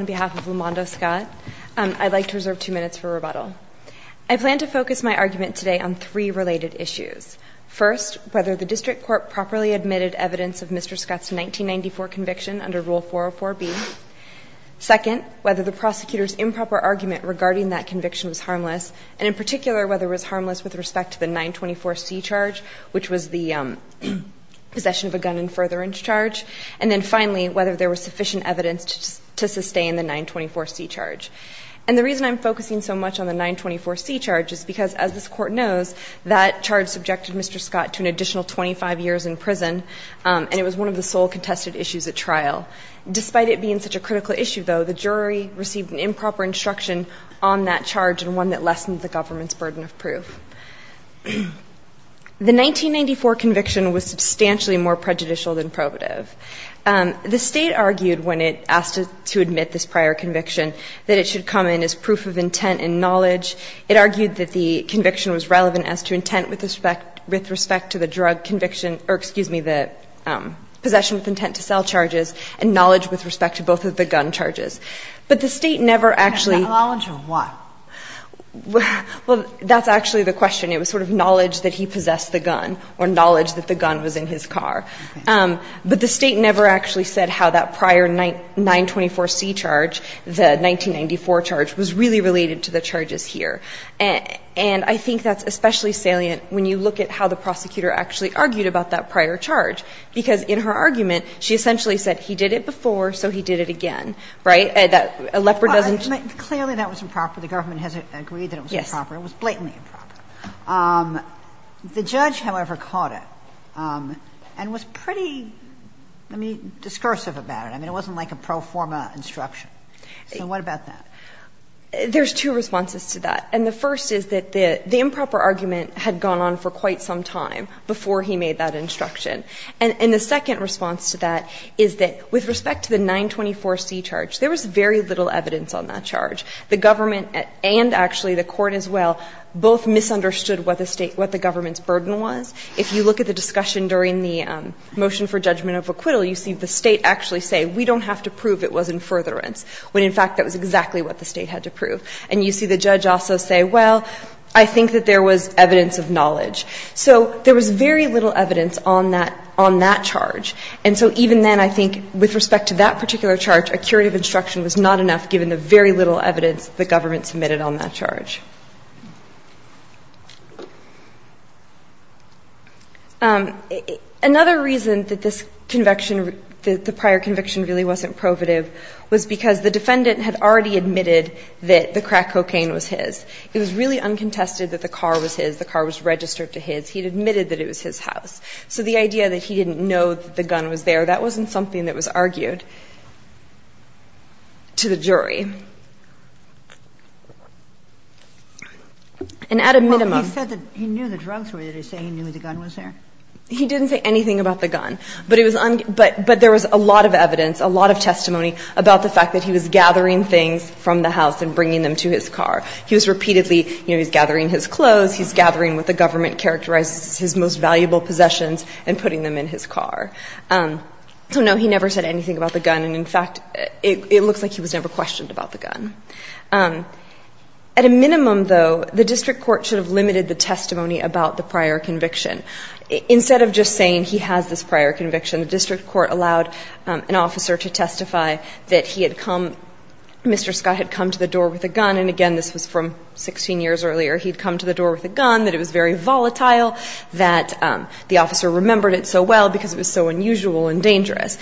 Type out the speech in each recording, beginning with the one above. on behalf of Lomando Scott. I'd like to reserve two minutes for rebuttal. I plan to focus my argument today on three related issues. First, whether the district court properly admitted evidence of Mr. Scott's 1994 conviction under Rule 404B. Second, whether the prosecutor's improper argument regarding that conviction was harmless, and in particular, whether it was harmless with respect to the 924C charge, which was the possession of a gun and further inch charge. And then finally, whether there was sufficient evidence to sustain the 924C charge. And the reason I'm focusing so much on the 924C charge is because, as this Court knows, that charge subjected Mr. Scott to an additional 25 years in prison, and it was one of the sole contested issues at trial. Despite it being such a critical issue, though, the jury received an improper instruction on that charge and one that lessened the government's burden of proof. The 1994 conviction was substantially more prejudicial than probative. The State argued, when it asked to admit this prior conviction, that it should come in as proof of intent and knowledge. It argued that the conviction was relevant as to intent with respect to the drug conviction or, excuse me, the possession with intent to sell charges and knowledge with respect to both of the gun charges. But the State never actually -- And the knowledge of what? Well, that's actually the question. It was sort of knowledge that he possessed the gun or knowledge that the gun was in his car. But the State never actually said how that prior 924C charge, the 1994 charge, was really related to the charges here. And I think that's especially salient when you look at how the prosecutor actually argued about that prior charge, because in her argument, she essentially said he did it before, so he did it again, right? That a leper doesn't -- Clearly, that was improper. The government has agreed that it was improper. It was blatantly improper. The judge, however, caught it and was pretty, I mean, discursive about it. I mean, it wasn't like a pro forma instruction. So what about that? There's two responses to that. And the first is that the improper argument had gone on for quite some time before he made that instruction. And the second response to that is that with respect to the 924C charge, there was very little evidence on that charge. The government and actually the court as well both misunderstood what the State – what the government's burden was. If you look at the discussion during the motion for judgment of acquittal, you see the State actually say, we don't have to prove it was in furtherance, when in fact that was exactly what the State had to prove. And you see the judge also say, well, I think that there was evidence of knowledge. So there was very little evidence on that charge. And so even then, I think, with respect to that particular charge, a curative instruction was not enough given the very little evidence the government submitted on that charge. Another reason that this conviction – that the prior conviction really wasn't probative was because the defendant had already admitted that the crack cocaine was his. It was really uncontested that the car was his. The car was registered to his. He had admitted that it was his house. So the idea that he didn't know that the gun was there, that wasn't something that was argued to the jury. And at a minimum – He said that he knew the drugs were there. Did he say he knew the gun was there? He didn't say anything about the gun. But it was – but there was a lot of evidence, a lot of testimony about the fact that he was gathering things from the house and the car. He was repeatedly – you know, he's gathering his clothes. He's gathering what the government characterizes as his most valuable possessions and putting them in his car. So no, he never said anything about the gun. And in fact, it looks like he was never questioned about the gun. At a minimum, though, the district court should have limited the testimony about the prior conviction. Instead of just saying he has this prior conviction, the district court allowed an officer to testify that he had come – Mr. Scott had come to the door with a gun. And again, this was from 16 years earlier. He'd come to the door with a gun, that it was very volatile, that the officer remembered it so well because it was so unusual and dangerous.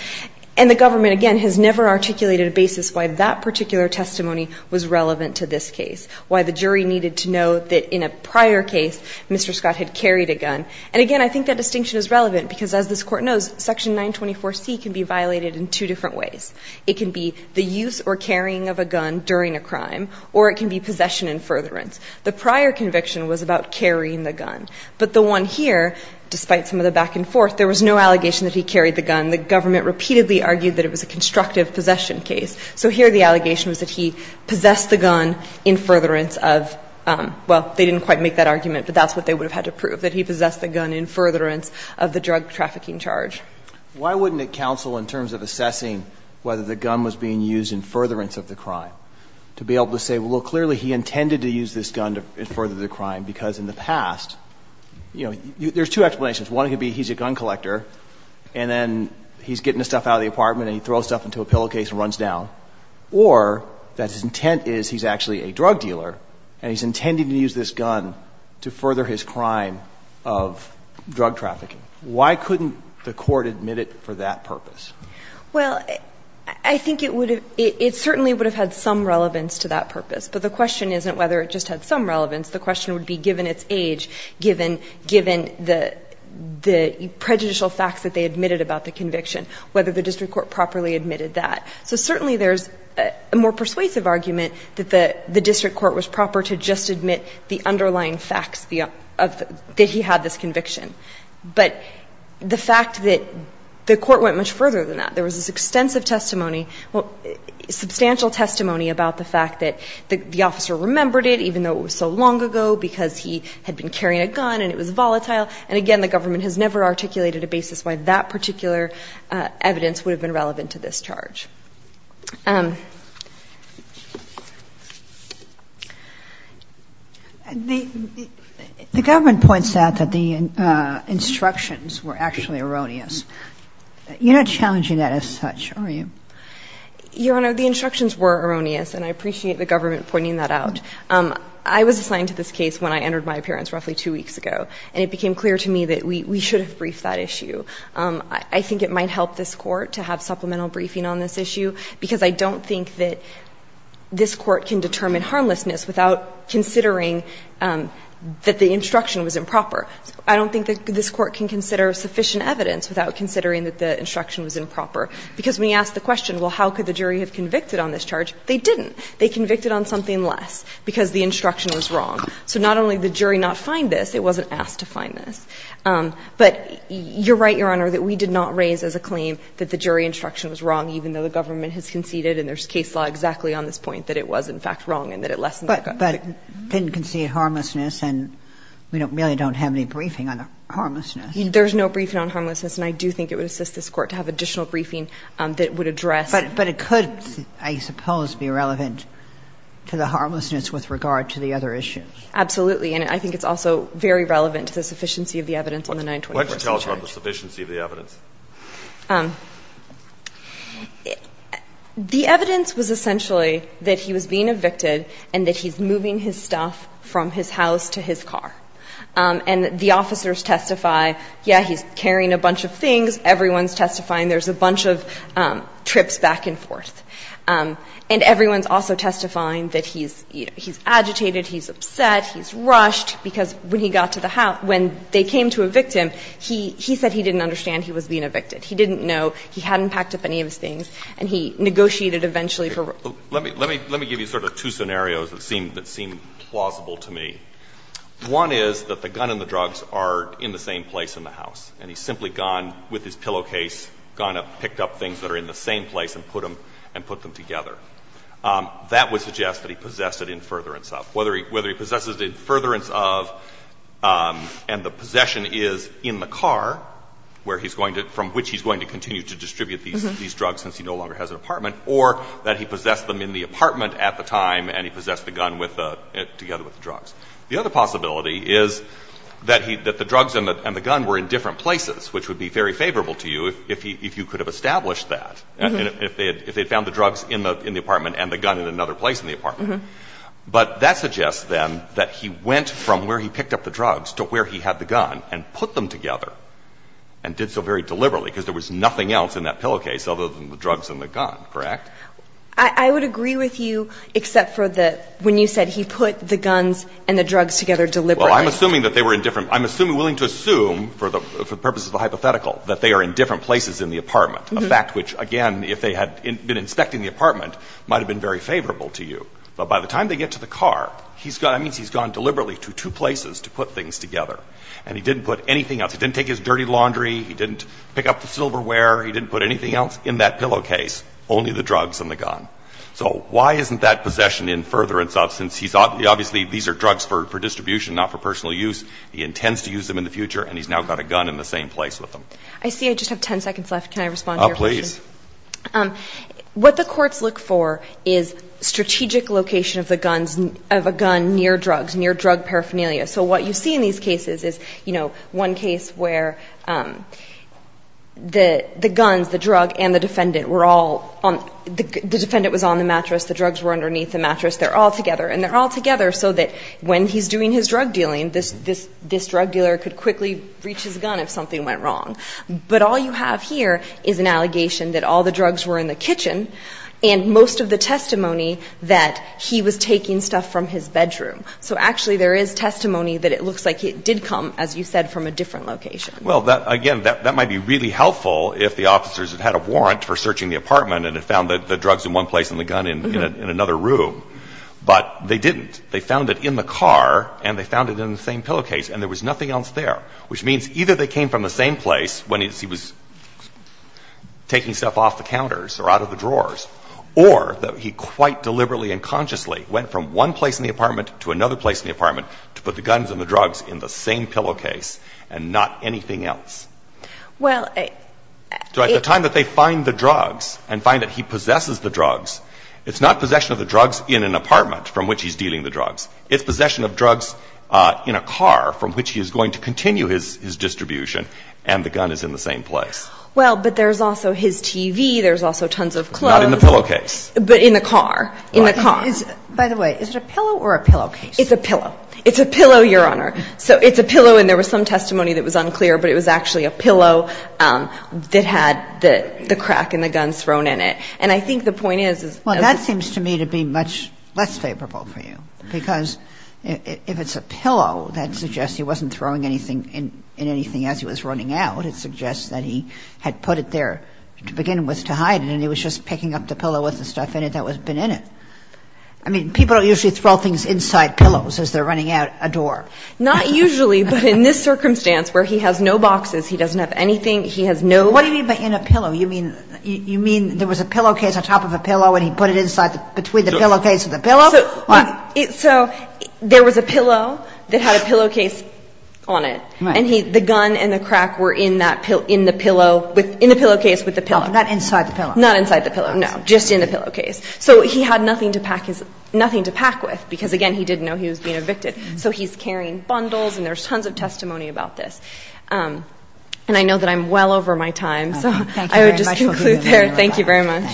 And the government, again, has never articulated a basis why that particular testimony was relevant to this case, why the jury needed to know that in a prior case, Mr. Scott had carried a gun. And again, I think that distinction is relevant because, as this Court knows, Section 924C can be violated in two different ways. It can be the use or carrying of a gun during a crime, or it can be possession in furtherance. The prior conviction was about carrying the gun. But the one here, despite some of the back and forth, there was no allegation that he carried the gun. The government repeatedly argued that it was a constructive possession case. So here the allegation was that he possessed the gun in furtherance of – well, they didn't quite make that argument, but that's what they would have had to prove, that he possessed the gun in furtherance of the drug trafficking charge. Why wouldn't it counsel in terms of assessing whether the gun was being used in furtherance of the crime to be able to say, well, clearly he intended to use this gun to further the crime, because in the past, you know, there's two explanations. One could be he's a gun collector, and then he's getting the stuff out of the apartment and he throws stuff into a pillowcase and runs down, or that his intent is he's actually a drug dealer and he's intending to use this gun to further his crime of drug trafficking. Why couldn't the court admit it for that purpose? Well, I think it would have – it certainly would have had some relevance to that purpose. But the question isn't whether it just had some relevance. The question would be, given its age, given the prejudicial facts that they admitted about the conviction, whether the district court properly admitted that. So certainly there's a more persuasive argument that the district court was proper to just admit the fact that the court went much further than that. There was this extensive testimony, substantial testimony about the fact that the officer remembered it, even though it was so long ago, because he had been carrying a gun and it was volatile. And, again, the government has never articulated a basis why that particular evidence would have been relevant to this charge. were actually erroneous. You're not challenging that as such, are you? Your Honor, the instructions were erroneous, and I appreciate the government pointing that out. I was assigned to this case when I entered my appearance roughly two weeks ago, and it became clear to me that we should have briefed that issue. I think it might help this court to have supplemental briefing on this issue, because I don't think that this court can determine harmlessness without considering that the instruction was improper. I don't think that this court can consider sufficient evidence without considering that the instruction was improper, because when you ask the question, well, how could the jury have convicted on this charge, they didn't. They convicted on something less, because the instruction was wrong. So not only did the jury not find this, it wasn't asked to find this. But you're right, Your Honor, that we did not raise as a claim that the jury instruction was wrong, even though the government has conceded, and there's case law exactly on this point, that it was, in fact, wrong and that it lessens the gun. But didn't concede harmlessness, and we really don't have any briefing on the harmlessness. There's no briefing on harmlessness, and I do think it would assist this court to have additional briefing that would address. But it could, I suppose, be relevant to the harmlessness with regard to the other issues. Absolutely. And I think it's also very relevant to the sufficiency of the evidence in the 924 statute. What tells you about the sufficiency of the evidence? The evidence was essentially that he was being evicted and that he's moving his stuff from his house to his car. And the officers testify, yeah, he's carrying a bunch of things, everyone's testifying there's a bunch of trips back and forth. And everyone's also testifying that he's, you know, he's agitated, he's upset, he's rushed, because when he got to the house, when they came to evict him, he said he didn't understand he was being evicted. He didn't know, he hadn't packed up any of his things, and he negotiated eventually for real. Let me give you sort of two scenarios that seem plausible to me. One is that the gun and the drugs are in the same place in the house, and he's simply gone with his pillowcase, gone up, picked up things that are in the same place and put them together. That would suggest that he possessed an infuriance of. Whether he possesses an infuriance of, and the possession is in the car where he's going to, from which he's going to continue to distribute these drugs since he no longer has an apartment, or that he possessed them in the apartment at the time, and he possessed the gun with the, together with the drugs. The other possibility is that he, that the drugs and the gun were in different places, which would be very favorable to you if he, if you could have established that, if they had found the drugs in the apartment and the gun in another place in the apartment. But that suggests, then, that he went from where he picked up the drugs to where he had the gun and put them together, and did so very deliberately, because there was nothing else in that pillowcase other than the drugs and the gun, correct? I would agree with you, except for the, when you said he put the guns and the drugs together deliberately. Well, I'm assuming that they were in different, I'm assuming, willing to assume, for the purposes of the hypothetical, that they are in different places in the apartment, a fact which, again, if they had been inspecting the apartment, might have been very favorable to you. But by the time they get to the car, he's gone, that means he's gone deliberately to two places to put things together, and he didn't put anything else. He didn't take his dirty laundry, he didn't pick up the silverware, he didn't put anything else in that pillowcase, only the drugs and the gun. So why isn't that possession in furtherance of, since he's obviously, these are drugs for distribution, not for personal use, he intends to use them in the future, and he's now got a gun in the same place with him? I see I just have 10 seconds left. Can I respond to your question? Oh, please. What the courts look for is strategic location of the guns, of a gun near drugs, near drug paraphernalia. So what you see in these cases is, you know, one case where the guns, the drug, and the defendant were all on, the defendant was on the mattress, the drugs were underneath the mattress, they're all together, and they're all together so that when he's doing his drug dealing, this drug dealer could quickly reach his gun if something went wrong. But all you have here is an allegation that all the drugs were in the kitchen, and most of the testimony that he was taking stuff from his bedroom. So actually, there is testimony that it looks like it did come, as you said, from a different location. Well, again, that might be really helpful if the officers had had a warrant for searching the apartment and had found the drugs in one place and the gun in another room. But they didn't. They found it in the car, and they found it in the same pillowcase, and there was nothing else there, which means either they came from the same place when he was taking stuff off the counters or out of the drawers, or that he quite deliberately and consciously went from one place in the apartment to another place in the apartment to put the guns and the drugs in the same pillowcase and not anything else. Well, it... So at the time that they find the drugs and find that he possesses the drugs, it's not possession of the drugs in an apartment from which he's dealing the drugs. It's possession of drugs in a car from which he is going to continue his distribution, and the gun is in the same place. Well, but there's also his TV, there's also tons of clothes... Not in the pillowcase. But in the car. In the car. In the car. By the way, is it a pillow or a pillowcase? It's a pillow. It's a pillow, Your Honor. So it's a pillow, and there was some testimony that was unclear, but it was actually a pillow that had the crack and the guns thrown in it. And I think the point is... Well, that seems to me to be much less favorable for you, because if it's a pillow, that suggests he wasn't throwing anything in anything as he was running out. It suggests that he had put it there to begin with to hide it, and he was just picking up the pillow with the stuff in it that had been in it. I mean, people don't usually throw things inside pillows as they're running out a door. Not usually, but in this circumstance where he has no boxes, he doesn't have anything, he has no... What do you mean by in a pillow? You mean there was a pillowcase on top of a pillow and he put it inside, between the pillowcase and the pillow? So there was a pillow that had a pillowcase on it, and the gun and the crack were in that pillow, in the pillowcase with the pillow. Not inside the pillow. Not inside the pillow, no. Just in the pillowcase. So he had nothing to pack with, because again, he didn't know he was being evicted. So he's carrying bundles, and there's tons of testimony about this. And I know that I'm well over my time, so I would just conclude there. Thank you very much.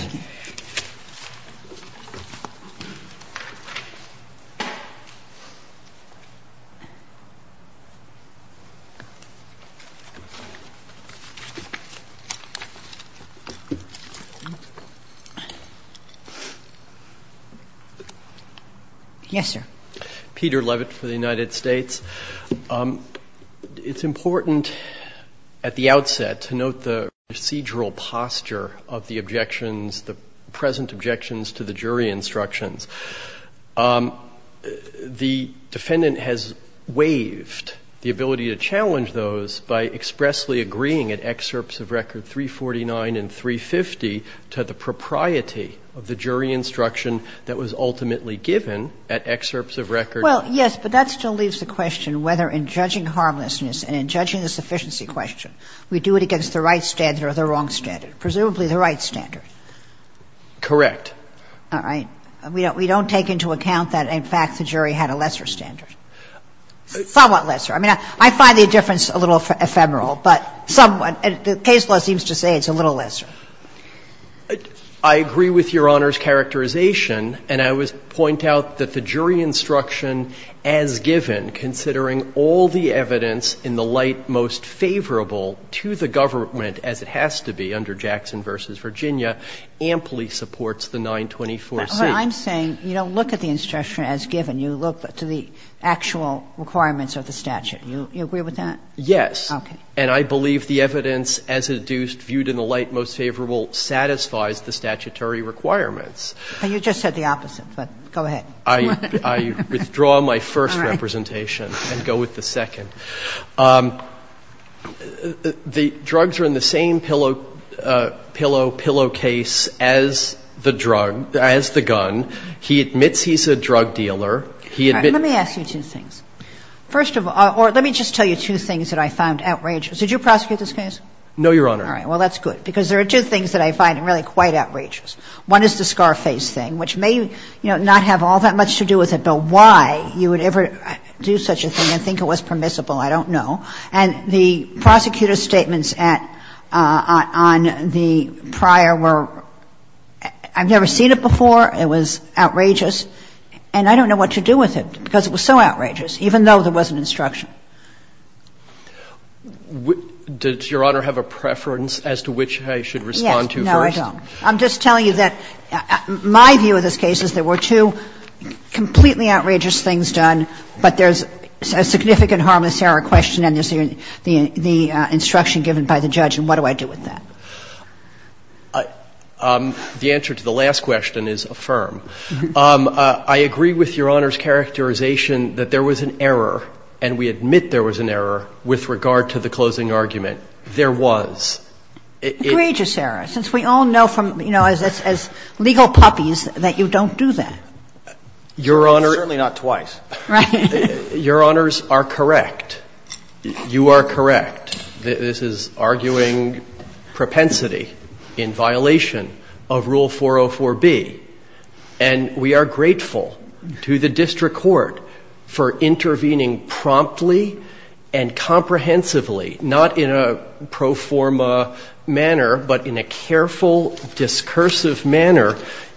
Yes, sir. Peter Levitt for the United States. It's important at the outset to note the procedural posture of the objections, the present objections to the jury instructions. The defendant has waived the ability to challenge those by expressly agreeing at excerpts of record to the propriety of the jury instruction that was ultimately given at excerpts of record. Well, yes, but that still leaves the question whether in judging harmlessness and in judging the sufficiency question, we do it against the right standard or the wrong standard? Presumably the right standard. Correct. All right. We don't take into account that, in fact, the jury had a lesser standard. Somewhat lesser. I mean, I find the difference a little ephemeral, but somewhat. The case law seems to say it's a little lesser. I agree with Your Honor's characterization, and I would point out that the jury instruction as given, considering all the evidence in the light most favorable to the government as it has to be under Jackson v. Virginia, amply supports the 924C. I'm saying you don't look at the instruction as given. You look to the actual requirements of the statute. Do you agree with that? Yes. Okay. And I believe the evidence as it is viewed in the light most favorable satisfies the statutory requirements. You just said the opposite, but go ahead. I withdraw my first representation and go with the second. The drugs are in the same pillow case as the drug, as the gun. He admits he's a drug dealer. All right. Let me ask you two things. First of all, or let me just tell you two things that I found outrageous. Did you prosecute this case? No, Your Honor. All right. Well, that's good, because there are two things that I find really quite outrageous. One is the Scarface thing, which may, you know, not have all that much to do with it, but why you would ever do such a thing and think it was permissible, I don't know. And the prosecutor's statements on the prior were, I've never seen it before, it was outrageous, and I don't know what to do with it because it was so outrageous. Even though there was an instruction. Did Your Honor have a preference as to which I should respond to first? Yes. No, I don't. I'm just telling you that my view of this case is there were two completely outrageous things done, but there's a significant harmless error question and there's the instruction given by the judge, and what do I do with that? The answer to the last question is affirm. I agree with Your Honor's characterization that there was an error and we admit there was an error with regard to the closing argument. There was. Outrageous error. Since we all know from, you know, as legal puppies that you don't do that. Your Honor. Certainly not twice. Right. Your Honors are correct. You are correct. We are grateful to the district court for intervening promptly and comprehensively, not in a pro forma manner, but in a careful, discursive manner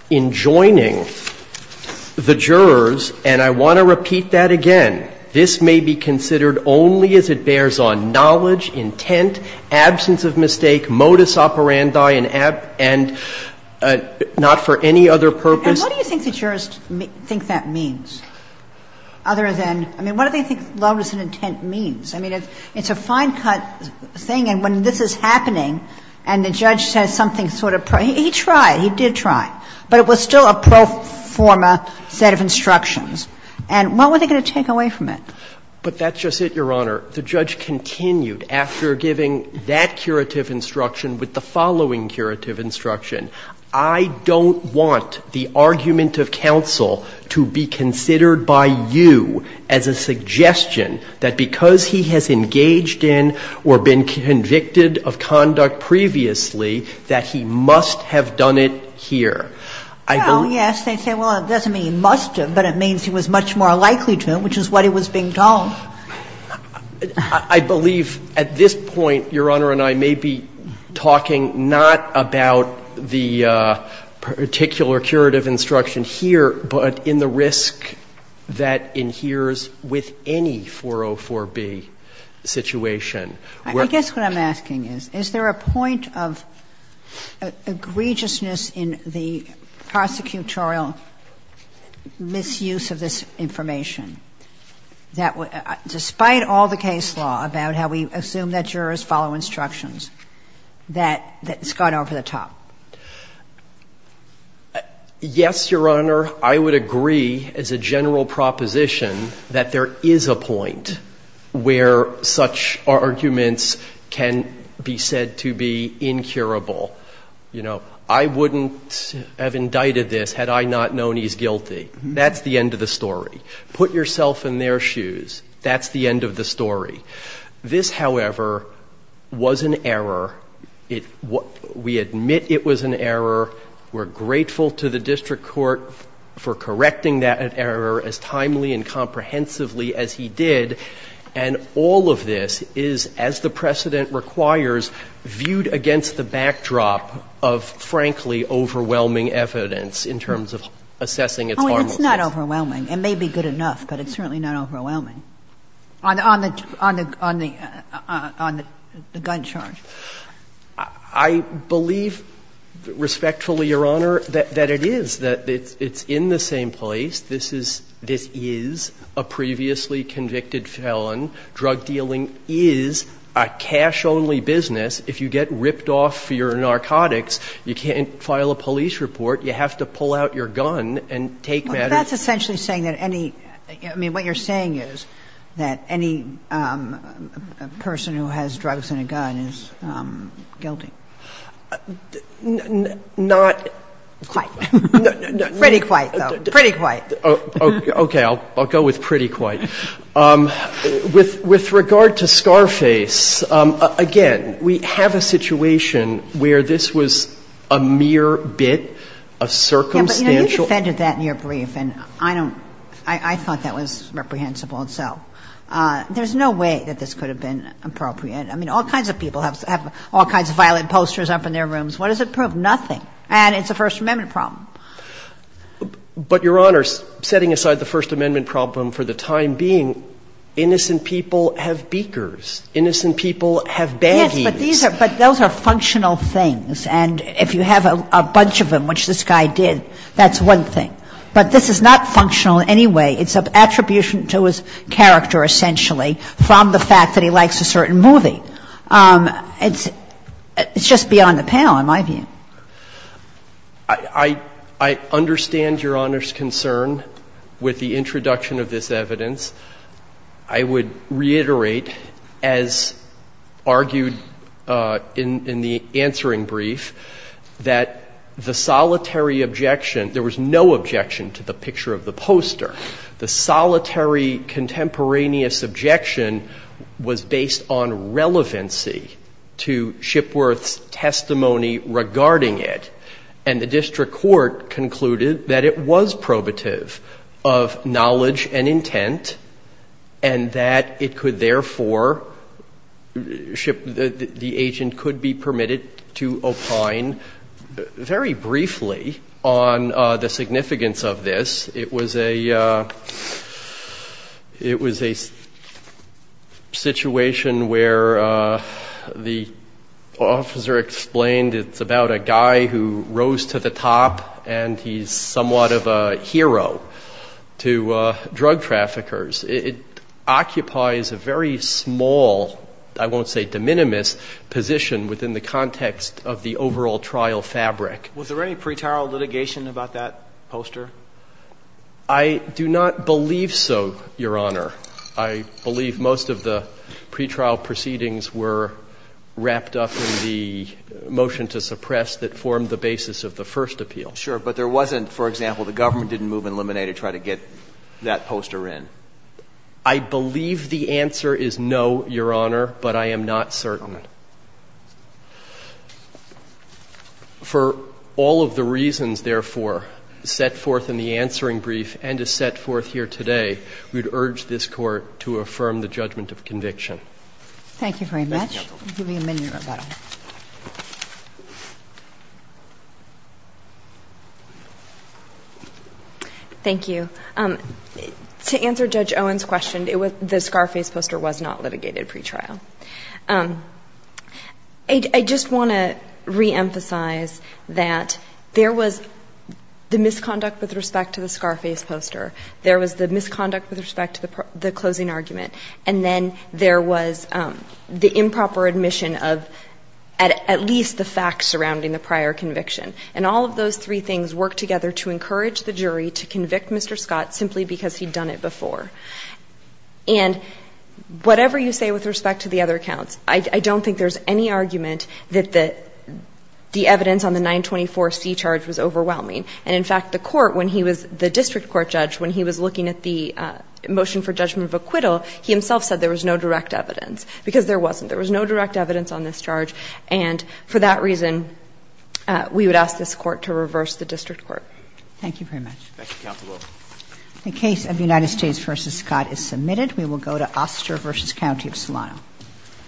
in joining the jurors and I want to repeat that again, this may be considered only as it bears on knowledge intent, absence of mistake, modus operandi, and not for any other purpose. And what do you think the jurors think that means? Other than, I mean, what do they think lawlessness intent means? I mean, it's a fine cut thing and when this is happening and the judge says something sort of, he tried, he did try, but it was still a pro forma set of instructions. And what were they going to take away from it? But that's just it, Your Honor. The judge continued after giving that curative instruction with the following curative instruction. I don't want the argument of counsel to be considered by you as a suggestion that because he has engaged in or been convicted of conduct previously that he must have done it here. Well, yes, they say, well, it doesn't mean he must have, but it means he was much more likely to, which is what he was being told. I believe at this point, Your Honor and I may be talking not about the particular curative instruction here, but in the risk that inheres with any 404B situation. I guess what I'm asking is, is there a point of egregiousness in the prosecutorial misuse of this information? That despite all the case law about how we assume that jurors follow instructions, that it's gone over the top? Yes, Your Honor. I would agree as a general proposition that there is a point where such arguments can be said to be incurable. You know, I wouldn't have indicted this had I not known he's guilty. That's the end of the story. Put yourself in their shoes. That's the end of the story. This, however, was an error. We admit it was an error. We're grateful to the district court for correcting that error as timely and comprehensively as he did. And all of this is, as the precedent requires, viewed against the backdrop of, frankly, overwhelming evidence in terms of assessing its harmlessness. It's not overwhelming. It may be good enough, but it's certainly not overwhelming. On the gun charge. I believe respectfully, Your Honor, that it is, that it's in the same place. This is a previously convicted felon. Drug dealing is a cash-only business. If you get ripped off for your narcotics, you can't file a police report. You have to pull out your gun and take matters. But that's essentially saying that any, I mean, what you're saying is that any person who has drugs in a gun is guilty. Not. Quite. Pretty quite, though. Pretty quite. Okay. I'll go with pretty quite. With regard to Scarface, again, we have a situation where this was a mere bit. A circumstantial. Yeah, but you defended that in your brief, and I don't, I thought that was reprehensible itself. There's no way that this could have been appropriate. I mean, all kinds of people have all kinds of violent posters up in their rooms. What does it prove? Nothing. And it's a First Amendment problem. But, Your Honor, setting aside the First Amendment problem for the time being, innocent people have beakers. Innocent people have baggies. Yes, but these are, but those are functional things. And if you have a bunch of them, which this guy did, that's one thing. But this is not functional in any way. It's an attribution to his character, essentially, from the fact that he likes a certain movie. It's just beyond the panel, in my view. I understand Your Honor's concern with the introduction of this evidence. I would reiterate, as argued in the answering brief, that the solitary objection, there was no objection to the picture of the poster. The solitary contemporaneous objection was based on relevancy to Shipworth's testimony regarding it. And the district court concluded that it was probative of knowledge and intent, and that it could therefore, the agent could be permitted to opine very briefly on the significance of this. It was a, it was a situation where the officer explained it's about a guy who was a, who rose to the top, and he's somewhat of a hero to drug traffickers. It occupies a very small, I won't say de minimis, position within the context of the overall trial fabric. Was there any pretrial litigation about that poster? I do not believe so, Your Honor. I believe most of the pretrial proceedings were wrapped up in the motion to suppress that form the basis of the first appeal. Sure, but there wasn't, for example, the government didn't move and eliminate or try to get that poster in? I believe the answer is no, Your Honor, but I am not certain. For all of the reasons, therefore, set forth in the answering brief and is set forth here today, we would urge this Court to affirm the judgment of conviction. Thank you very much. Thank you. I'll give you a minute, Rebecca. Thank you. To answer Judge Owen's question, the Scarface poster was not litigated pretrial. I just want to reemphasize that there was the misconduct with respect to the Scarface poster, there was the misconduct with respect to the closing argument, and then there was the improper admission of at least the facts surrounding the prior conviction. And all of those three things work together to encourage the jury to convict Mr. Scott simply because he'd done it before. And whatever you say with respect to the other accounts, I don't think there's any argument that the evidence on the 924C charge was overwhelming. And in fact, the Court, when he was the district court judge, when he was looking at the motion for judgment of acquittal, he himself said there was no direct evidence, because there wasn't. There was no direct evidence on this charge. And for that reason, we would ask this Court to reverse the district court. Thank you very much. Thank you, Counsel. The case of United States v. Scott is submitted. We will go to Oster v. County of Solano.